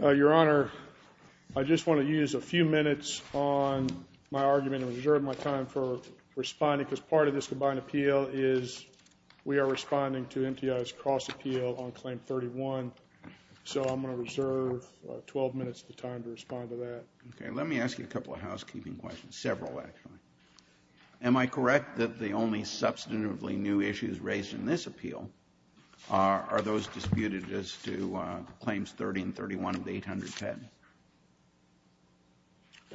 Your Honor, I just want to use a few minutes on my argument and reserve my time for responding because part of this combined appeal is we are responding to MTI's cross-appeal on Let me ask you a couple of housekeeping questions, several, actually. Am I correct that the only substantively new issues raised in this appeal are those disputed as to Claims 30 and 31 of the 810?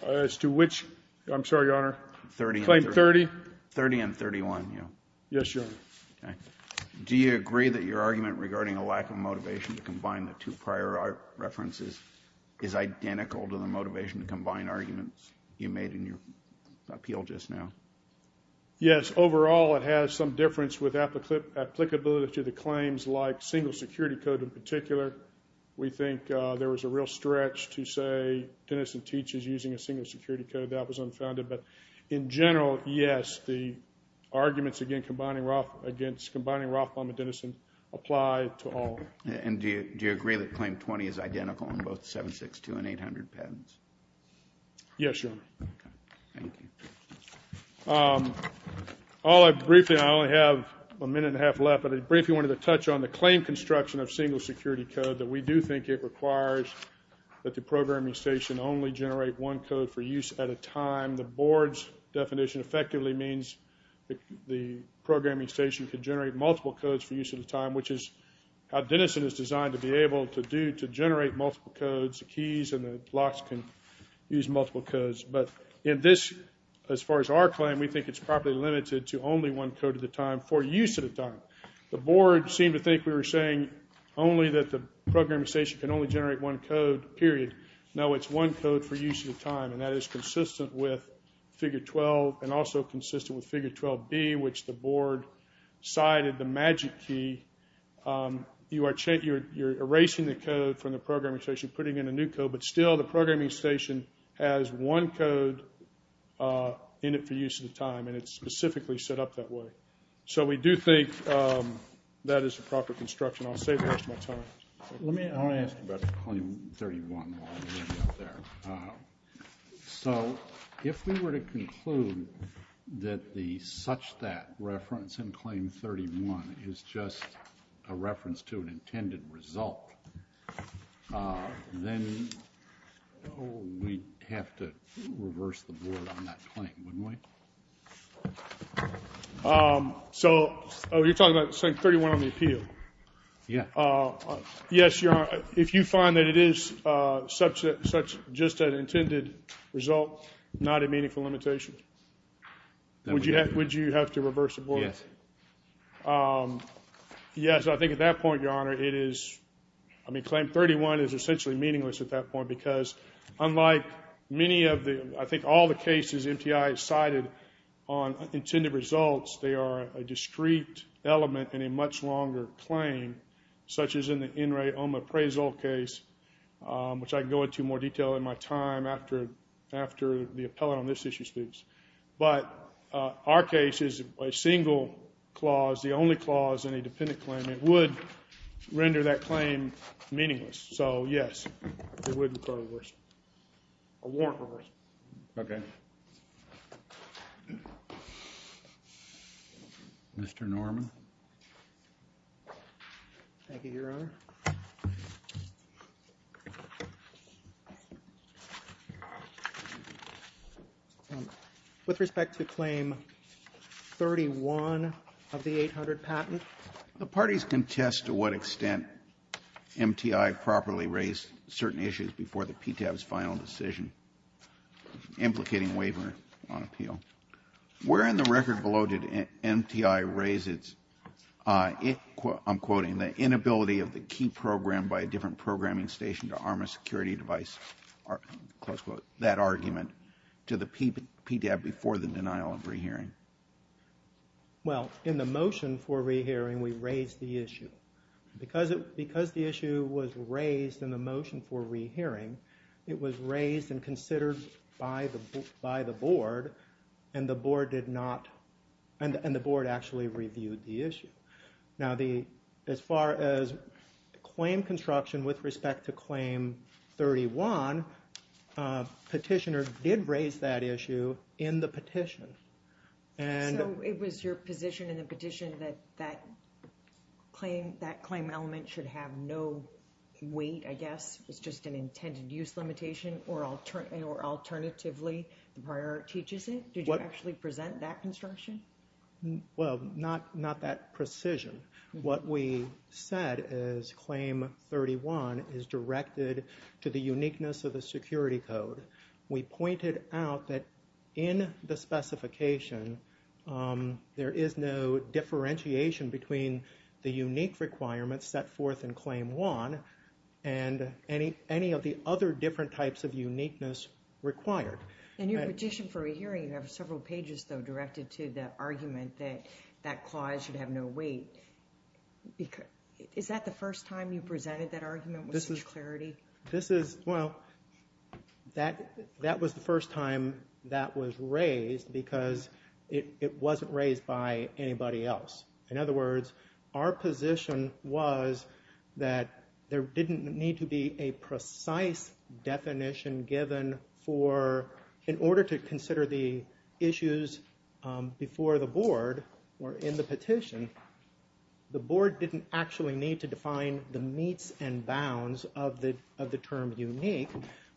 As to which? I'm sorry, Your Honor. Claim 30? 30 and 31, yeah. Yes, Your Honor. Okay. Do you agree that your argument regarding a lack of motivation to combine the two prior references is identical to the motivation to combine arguments you made in your appeal just now? Yes. Overall, it has some difference with applicability to the claims like single security code in particular. We think there was a real stretch to say Denison teaches using a single security code. That was unfounded. But in general, yes, the arguments against combining Rothbaum and Denison apply to all. And do you agree that Claim 20 is identical in both 762 and 800 patents? Yes, Your Honor. Okay. Thank you. Briefly, I only have a minute and a half left, but I briefly wanted to touch on the claim construction of single security code that we do think it requires that the programming station only generate one code for use at a time. The Board's definition effectively means the programming station could generate multiple codes for use at a time, which is how Denison is designed to be able to do, to generate multiple codes. The keys and the locks can use multiple codes. But in this, as far as our claim, we think it's properly limited to only one code at a time for use at a time. The Board seemed to think we were saying only that the programming station can only generate one code, period. No, it's one code for use at a time, and that is consistent with Figure 12 and also consistent with Figure 12B, which the Board cited the magic key. You are erasing the code from the programming station, putting in a new code, but still the programming station has one code in it for use at a time, and it's specifically set up that way. So we do think that is the proper construction. I'll save the rest of my time. Let me ask about Claim 31 while I'm waiting out there. So, if we were to conclude that the such-that reference in Claim 31 is just a reference to an intended result, then we'd have to reverse the Board on that claim, wouldn't we? So, oh, you're talking about Claim 31 on the appeal? Yeah. Yes, Your Honor, if you find that it is just an intended result, not a meaningful limitation, would you have to reverse the Board? Yes. Yes, I think at that point, Your Honor, it is, I mean, Claim 31 is essentially meaningless at that point because unlike many of the, I think all the cases MTI has cited on intended results, they are a discrete element in a much longer claim, such as in the In re Oma appraisal case, which I can go into more detail in my time after the appellate on this issue speaks. But our case is a single clause, the only clause in a dependent claim. It would render that claim meaningless. So yes, it would require a reverse, a warrant for a reverse. Okay. Mr. Norman. Thank you, Your Honor. With respect to Claim 31 of the 800 patent. The parties contest to what extent MTI properly raised certain issues before the PTAB's final decision implicating waiver on appeal. Where in the record below did MTI raise its, I'm quoting, the inability of the key program by a different programming station to arm a security device, close quote, that argument to the PTAB before the denial of rehearing? Well, in the motion for rehearing, we raised the issue. Because the issue was raised in the motion for rehearing, it was raised and considered by the board, and the board did not, and the board actually reviewed the issue. Now as far as claim construction with respect to Claim 31, petitioner did raise that issue in the petition. So it was your position in the petition that that claim element should have no weight, I guess, it's just an intended use limitation, or alternatively the prior teaches it? Did you actually present that construction? Well, not that precision. What we said is Claim 31 is directed to the uniqueness of the security code. We pointed out that in the specification, there is no differentiation between the unique requirements set forth in Claim 1, and any of the other different types of uniqueness required. In your petition for rehearing, you have several pages, though, directed to the argument that that clause should have no weight. Is that the first time you presented that argument with such clarity? This is, well, that was the first time that was raised because it wasn't raised by anybody else. In other words, our position was that there didn't need to be a precise definition given for, in order to consider the issues before the board, or in the petition, the board didn't actually need to define the meets and bounds of the term unique,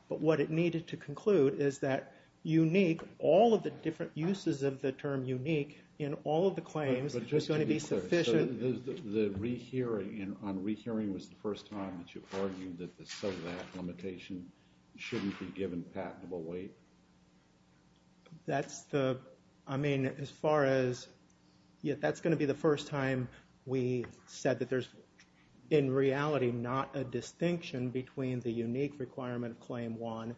but what it needed to conclude is that unique, all of the different uses of the term unique, in all of the claims is going to be sufficient. But just to be clear, the rehearing, on rehearing was the first time that you argued that the set of that limitation shouldn't be given patentable weight? That's the, I mean, as far as, yeah, that's going to be the first time we said that there's in reality not a distinction between the unique requirement of Claim 1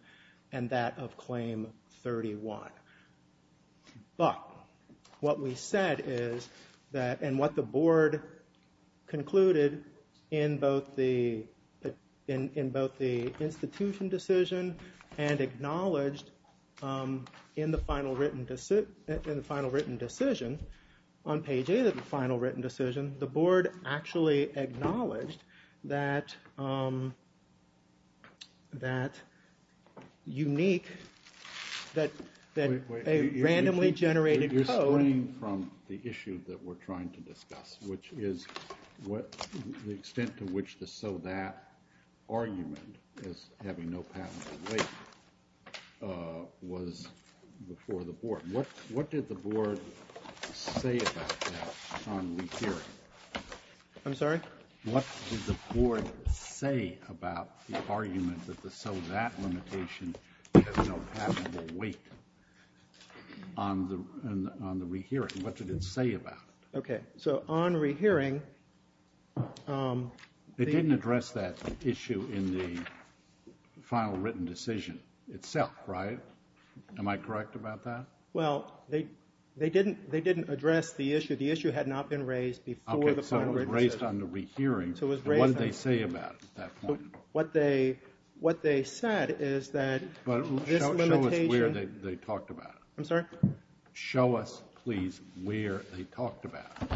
and that of Claim 31. But what we said is that, and what the board concluded in both the institution decision and acknowledged in the final written decision, on page A of the final written decision, the board actually acknowledged that unique, that a randomly generated code. You're springing from the issue that we're trying to discuss, which is the extent to which the so that argument as having no patentable weight was before the board. What did the board say about that on rehearing? I'm sorry? What did the board say about the argument that the so that limitation has no patentable weight on the rehearing? What did it say about it? Okay, so on rehearing, they didn't address that issue in the final written decision itself, right? Am I correct about that? Well, they didn't address the issue. The issue had not been raised before the final written decision. Okay, so it was raised on the rehearing, and what did they say about it at that point? What they said is that this limitation... Show us where they talked about it. I'm sorry? Show us, please, where they talked about it.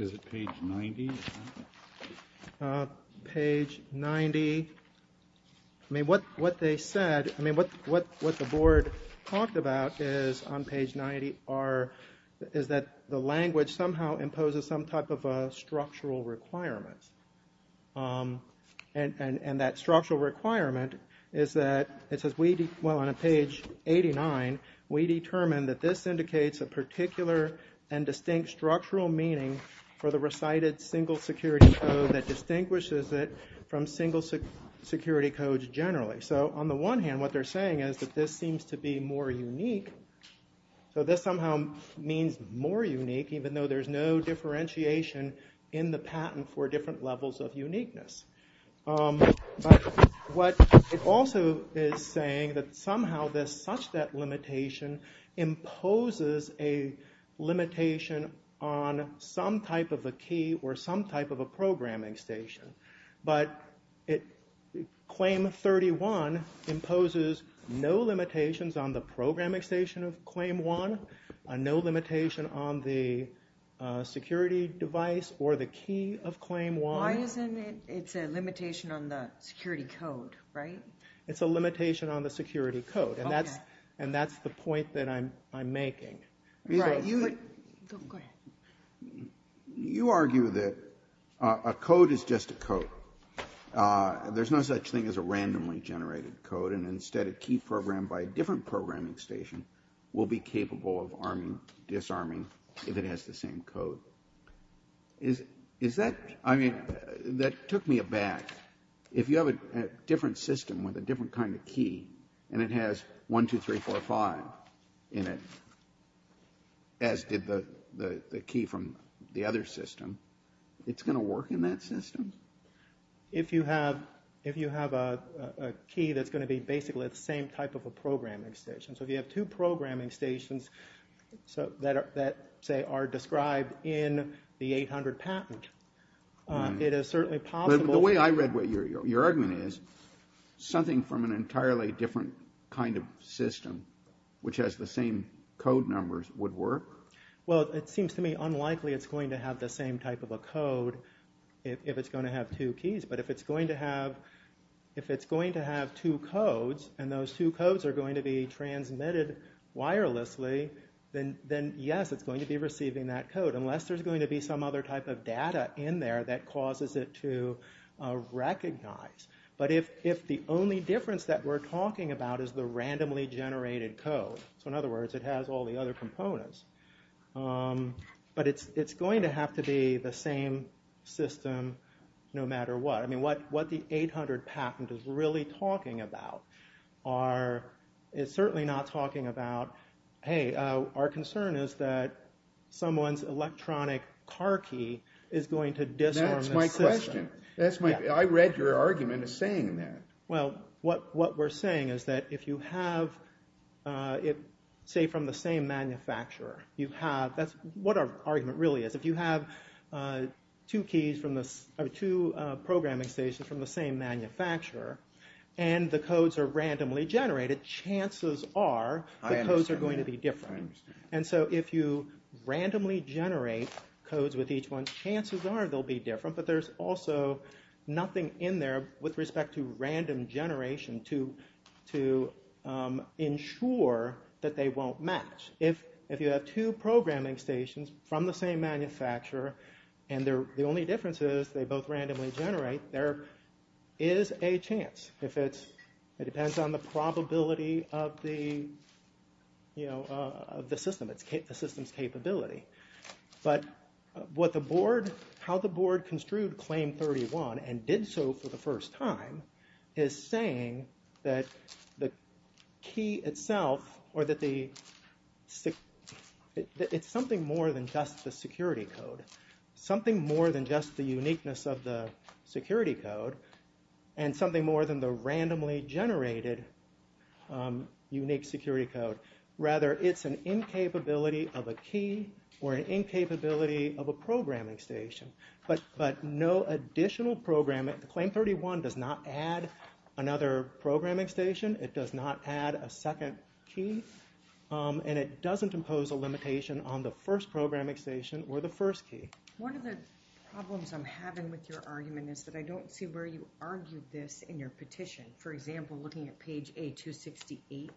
Is it page 90? Page 90. I mean, what they said, I mean, what the board talked about is, on page 90, is that the language somehow imposes some type of a structural requirement, and that structural requirement is that it says, well, on page 89, we determined that this indicates a particular and distinct structural meaning for the recited single security code that distinguishes it from single security codes generally. So on the one hand, what they're saying is that this seems to be more unique, so this somehow means more unique, even though there's no differentiation in the patent for different levels of uniqueness. But what it also is saying that somehow there's such that limitation imposes a limitation on some type of a key or some type of a programming station, but Claim 31 imposes no limitations on the programming station of Claim 1, no limitation on the security device or the key of Claim 1. Why isn't it, it's a limitation on the security code, right? It's a limitation on the security code, and that's, and that's the point that I'm, I'm making. Right. Go ahead. You argue that a code is just a code. There's no such thing as a randomly generated code, and instead a key programmed by a different programming station will be capable of arming, disarming if it has the same code. Is, is that, I mean, that took me aback. If you have a different system with a different kind of key, and it has 1, 2, 3, 4, 5 in it, as did the, the key from the other system, it's going to work in that system? If you have, if you have a key that's going to be basically the same type of a programming station. So if you have two programming stations that are, that say, are described in the 800 patent, it is certainly possible. But the way I read what your argument is, something from an entirely different kind of system, which has the same code numbers, would work? Well, it seems to me unlikely it's going to have the same type of a code if, if it's going to have two keys. But if it's going to have, if it's going to have two codes, and those two codes are going to be transmitted wirelessly, then, then, yes, it's going to be receiving that code, unless there's going to be some other type of data in there that causes it to recognize. But if, if the only difference that we're talking about is the randomly generated code, so in other words, it has all the other components. But it's, it's going to have to be the same system no matter what. I mean, what, what the 800 patent is really talking about are, is certainly not talking about, hey, our concern is that someone's electronic car key is going to disarm the system. That's my question. That's my, I read your argument as saying that. Well, what, what we're saying is that if you have it, say, from the same manufacturer, you have, that's what our argument really is. If you have two keys from the, or two programming stations from the same manufacturer, and the codes are randomly generated, chances are the codes are going to be different. And so if you randomly generate codes with each one, chances are they'll be different, but there's also nothing in there with respect to random generation to, to ensure that they won't match. If, if you have two programming stations from the same manufacturer, and they're, the only difference is they both randomly generate, there is a chance if it's, it depends on the probability of the, you know, of the system, it's, the system's capability. But what the board, how the board construed Claim 31 and did so for the first time is saying that the key itself, or that the, it's something more than just the security code. Something more than just the uniqueness of the security code, and something more than the randomly generated unique security code. Rather, it's an incapability of a key, or an incapability of a programming station. But no additional programming, Claim 31 does not add another programming station, it does not add a second key, and it doesn't impose a limitation on the first programming station or the first key. One of the problems I'm having with your argument is that I don't see where you argued this in your petition. For example, looking at page A268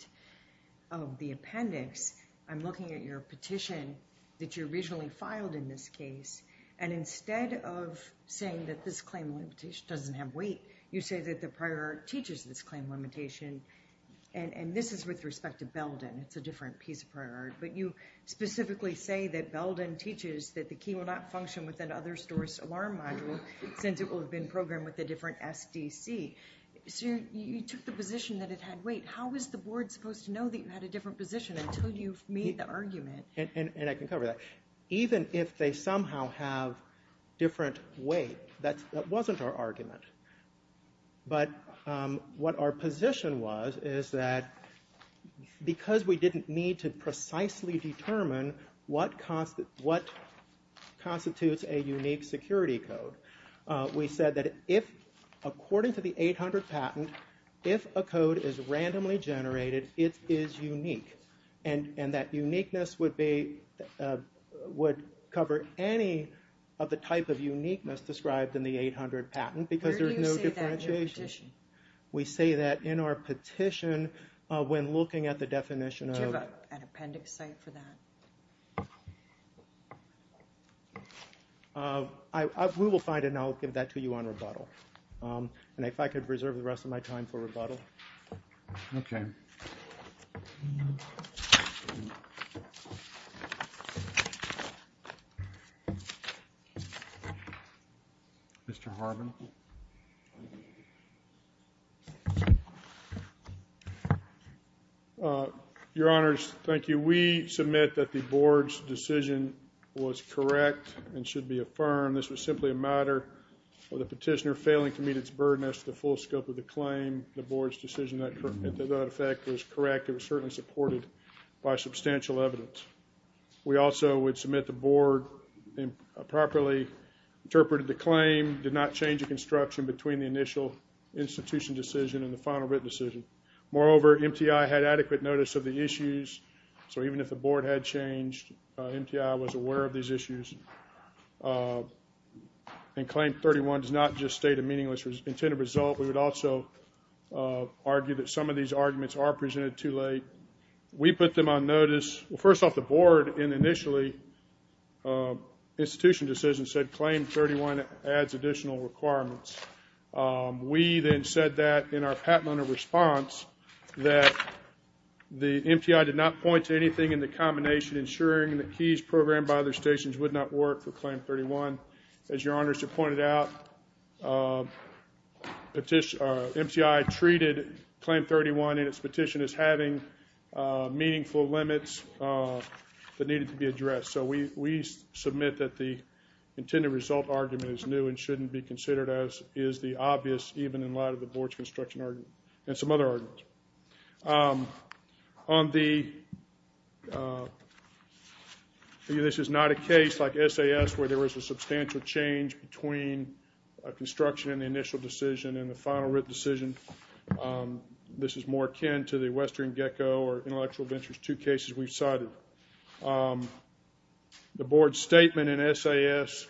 of the appendix, I'm looking at your petition that you originally filed in this case, and instead of saying that this claim limitation doesn't have weight, you say that the prior art teaches this claim limitation. And this is with respect to Belden, it's a different piece of prior art, but you specifically say that Belden teaches that the key will not function within other stores' alarm module since it will have been programmed with a different SDC. So you took the position that it had weight. How is the board supposed to know that you had a different position until you've made the argument? And I can cover that. Even if they somehow have different weight, that wasn't our argument. But what our position was is that because we didn't need to precisely determine what constitutes a unique security code, we said that according to the 800 patent, if a code is randomly generated, it is unique. And that uniqueness would cover any of the type of uniqueness described in the 800 patent because there's no differentiation. Where do you say that in your petition? We say that in our petition when looking at the definition of- Do you have an appendix site for that? We will find it, and I'll give that to you on rebuttal. And if I could reserve the rest of my time for rebuttal. Okay. Mr. Harvin. Your Honors, thank you. We submit that the board's decision was correct and should be affirmed. This was simply a matter of the petitioner failing to meet its burden as to the full scope of the claim. The board's decision that that effect was correct, it was certainly supported by substantial evidence. We also would submit the board improperly interpreted the claim, did not change the construction between the initial institution decision and the final written decision. Moreover, MTI had adequate notice of the issues, so even if the board had changed, MTI was aware of these issues. And claim 31 does not just state a meaningless intended result. We would also argue that some of these arguments are presented too late. We put them on notice. Well, first off, the board initially, institution decision said claim 31 adds additional requirements. We then said that in our patent owner response that the MTI did not point to anything in the combination ensuring the keys programmed by other stations would not work for claim 31. As Your Honors have pointed out, MTI treated claim 31 in its petition as having meaningful limits that needed to be addressed. So we submit that the intended result argument is new and shouldn't be considered as is the obvious, even in light of the board's construction argument and some other arguments. On the, this is not a case like SAS where there was a substantial change between a construction and the initial decision and the final written decision. This is more akin to the Western Gecko or Intellectual Ventures, two cases we've cited. The board's statement in SAS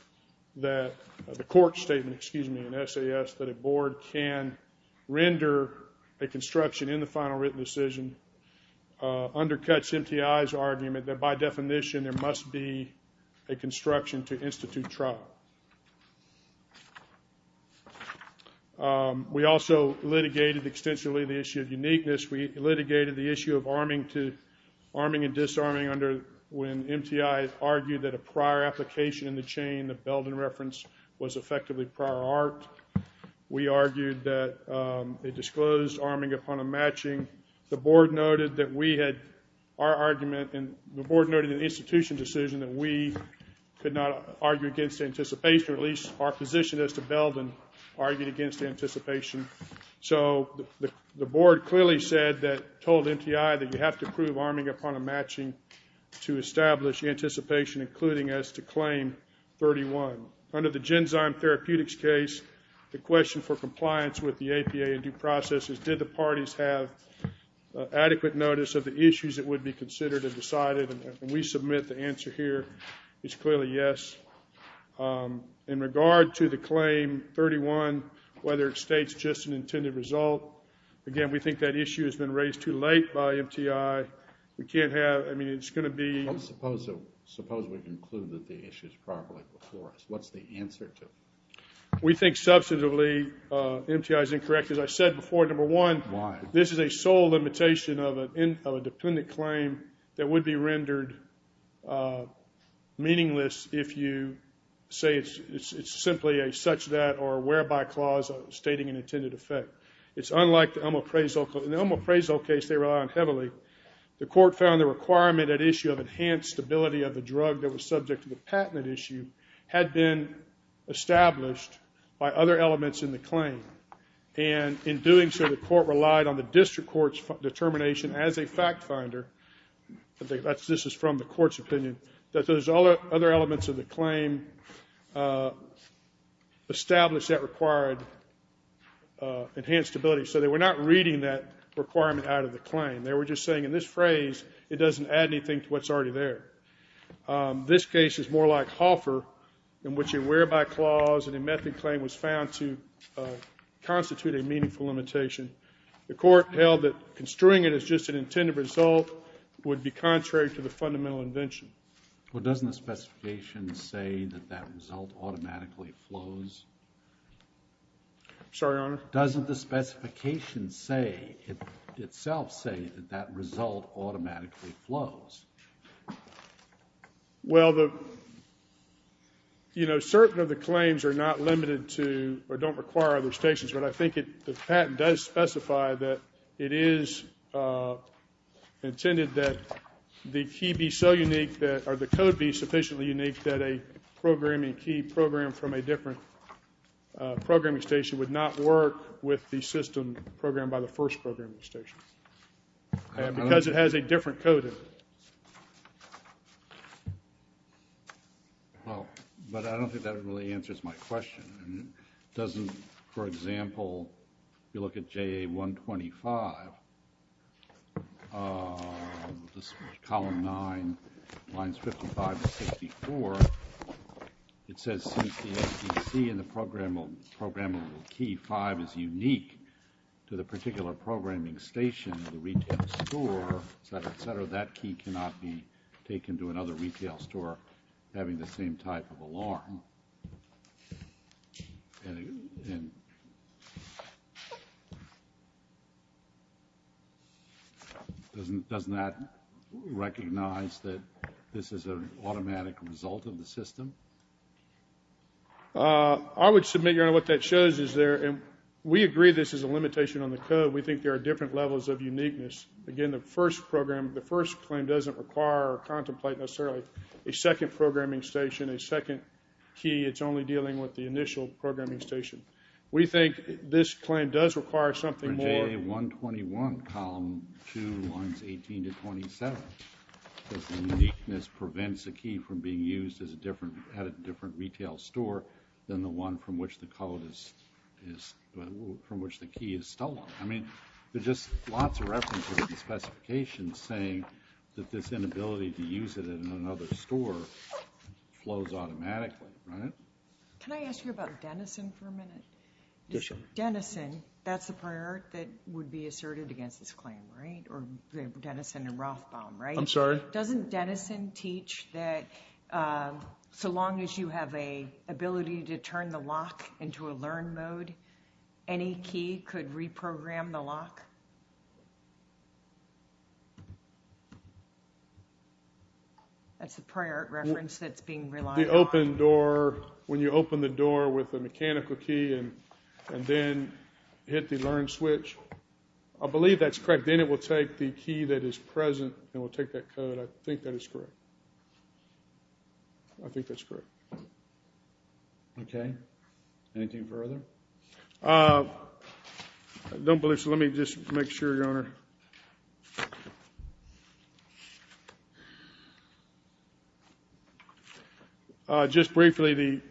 that, the court's statement, excuse me, in SAS that a board can render a construction in the final written decision undercuts MTI's argument that by definition there must be a construction to institute trial. We also litigated extensively the issue of uniqueness. We litigated the issue of arming to, arming and disarming under when MTI argued that a prior application in the chain, the Belden reference, was effectively prior art. We argued that it disclosed arming upon a matching. The board noted that we had, our argument, and the board noted in the institution decision that we could not argue against anticipation, or at least our position as to Belden argued against anticipation. So the board clearly said that, told MTI that you have to prove arming upon a matching to establish anticipation, including as to claim 31. Under the Genzyme Therapeutics case, the question for compliance with the APA in due process is did the parties have adequate notice of the issues that would be considered and decided, and we submit the answer here is clearly yes. In regard to the claim 31, whether it states just an intended result, again, we think that issue has been raised too late by MTI. We can't have, I mean, it's going to be. Suppose we conclude that the issue is properly before us. What's the answer to it? We think substantively MTI is incorrect. As I said before, number one, this is a sole limitation of a dependent claim that would be rendered meaningless if you say it's simply a such that or a whereby clause stating an intended effect. It's unlike the Elmo-Prazo case. In the Elmo-Prazo case, they rely on heavily. The court found the requirement at issue of enhanced stability of the drug that was subject to the patent at issue had been established by other elements in the claim. And in doing so, the court relied on the district court's determination as a fact finder, this is from the court's opinion, that those other elements of the claim established that required enhanced stability. So they were not reading that requirement out of the claim. They were just saying in this phrase, it doesn't add anything to what's already there. This case is more like Hoffer, in which a whereby clause and a method claim was found to constitute a meaningful limitation. The court held that construing it as just an intended result would be contrary to the fundamental invention. Well, doesn't the specification say that that result automatically flows? Sorry, Your Honor? Doesn't the specification itself say that that result automatically flows? Well, certain of the claims are not limited to or don't require other stations, but I think the patent does specify that it is intended that the key be so unique or the code be sufficiently unique that a programming key programmed from a different programming station would not work with the system programmed by the first programming station because it has a different code in it. Well, but I don't think that really answers my question. Doesn't, for example, if you look at JA 125, column 9, lines 55 to 64, it says since the APC and the programmable key 5 is unique to the particular programming station, the retail store, et cetera, et cetera, that key cannot be taken to another retail store having the same type of alarm. Doesn't that recognize that this is an automatic result of the system? I would submit, Your Honor, what that shows is there, and we agree this is a limitation on the code. We think there are different levels of uniqueness. Again, the first program, the first claim doesn't require or contemplate necessarily a second programming station, a second key. It's only dealing with the initial programming station. We think this claim does require something more. For JA 121, column 2, lines 18 to 27, this uniqueness prevents a key from being used as a different, at a different retail store than the one from which the code is, from which the key is stolen. I mean, there's just lots of references and specifications saying that this inability to use it in another store flows automatically, right? Can I ask you about Denison for a minute? Yes, Your Honor. Denison, that's the prior that would be asserted against this claim, right? Or Denison and Rothbaum, right? I'm sorry? Doesn't Denison teach that so long as you have a ability to turn the lock into a learn mode, any key could reprogram the lock? That's the prior reference that's being relied on. The open door, when you open the door with a mechanical key and then hit the learn switch, I believe that's correct. Then it will take the key that is present and will take that code. I think that is correct. I think that's correct. Okay. Anything further? I don't believe so. Let me just make sure, Your Honor. Just briefly,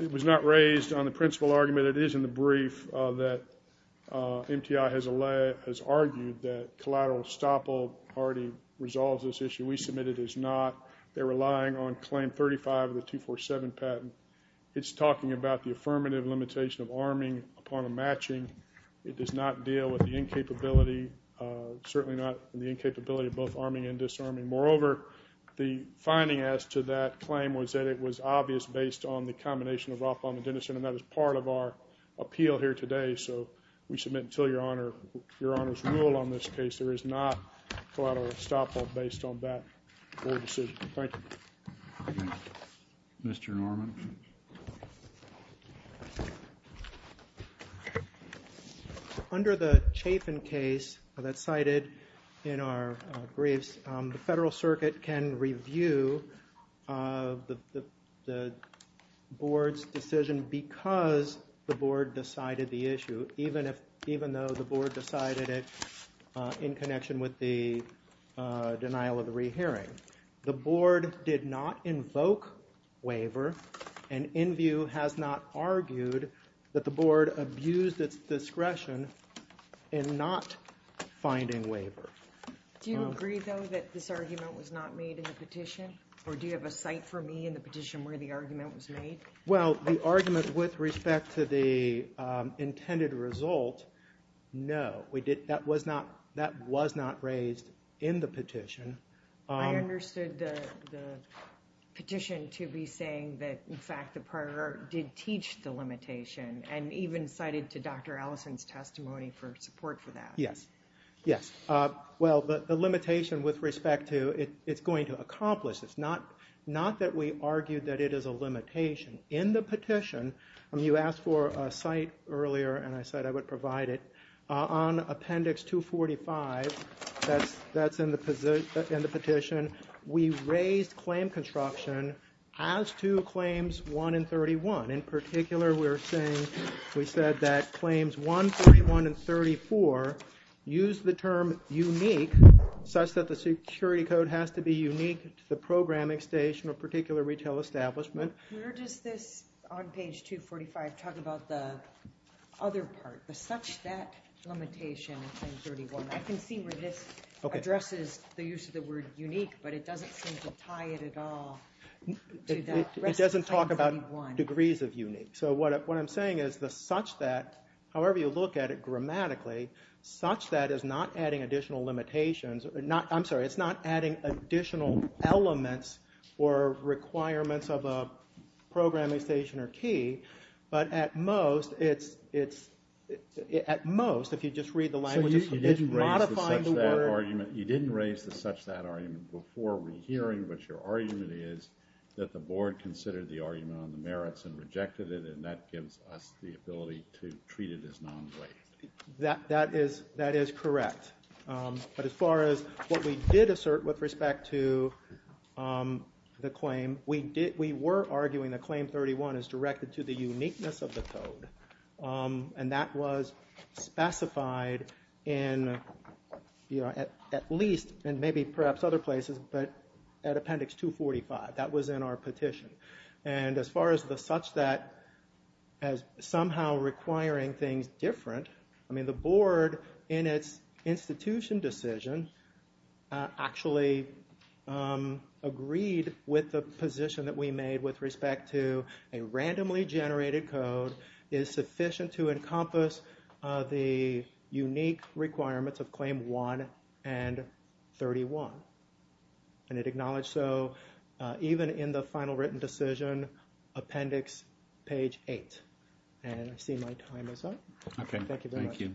it was not raised on the principal argument. It is in the brief that MTI has argued that collateral estoppel already resolves this issue. We submit it as not. They're relying on claim 35 of the 247 patent. It's talking about the affirmative limitation of arming upon a matching. It does not deal with the incapability, certainly not the incapability of both arming and disarming. Moreover, the finding as to that claim was that it was obvious based on the combination of Rothbaum and Denison, and that is part of our appeal here today. So we submit until Your Honor's rule on this case there is not collateral estoppel based on that court decision. Thank you. Mr. Norman? Under the Chafin case that's cited in our briefs, the Federal Circuit can review the Board's decision because the Board decided the issue, even though the Board decided it in connection with the denial of the rehearing. The Board did not invoke waiver, and Enview has not argued that the Board abused its discretion in not finding waiver. Do you agree, though, that this argument was not made in the petition? Or do you have a cite for me in the petition where the argument was made? Well, the argument with respect to the intended result, no. That was not raised in the petition. I understood the petition to be saying that, in fact, the partner did teach the limitation, and even cited to Dr. Allison's testimony for support for that. Yes, yes. Well, the limitation with respect to it's going to accomplish this. Not that we argue that it is a limitation. In the petition, you asked for a cite earlier, and I said I would provide it. On appendix 245, that's in the petition, we raised claim construction as to claims 1 and 31. In particular, we're saying, we said that claims 1, 31, and 34 use the term unique, such that the security code has to be unique to the programming station or particular retail establishment. Where does this, on page 245, talk about the other part, the such that limitation in 31? I can see where this addresses the use of the word unique, but it doesn't seem to tie it at all to that. It doesn't talk about degrees of unique. So what I'm saying is the such that, however you look at it grammatically, such that is not adding additional limitations, I'm sorry, it's not adding additional elements or requirements of a programming station or key, but at most it's, at most if you just read the language, it's modifying the word. So you didn't raise the such that argument before we're hearing, but your argument is that the board considered the argument on the merits and rejected it, and that gives us the ability to treat it as non-related. That is correct. But as far as what we did assert with respect to the claim, we did, we were arguing that claim 31 is directed to the uniqueness of the code. And that was specified in, you know, at least, and maybe perhaps other places, but at appendix 245, that was in our petition. And as far as the such that as somehow requiring things different, I mean the institution decision actually agreed with the position that we made with respect to a randomly generated code is sufficient to encompass the unique requirements of claim 1 and 31. And it acknowledged so even in the final written decision, appendix page 8. And I see my time is up. Okay. Thank you very much. Thank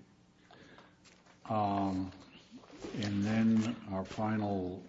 you. And then our final.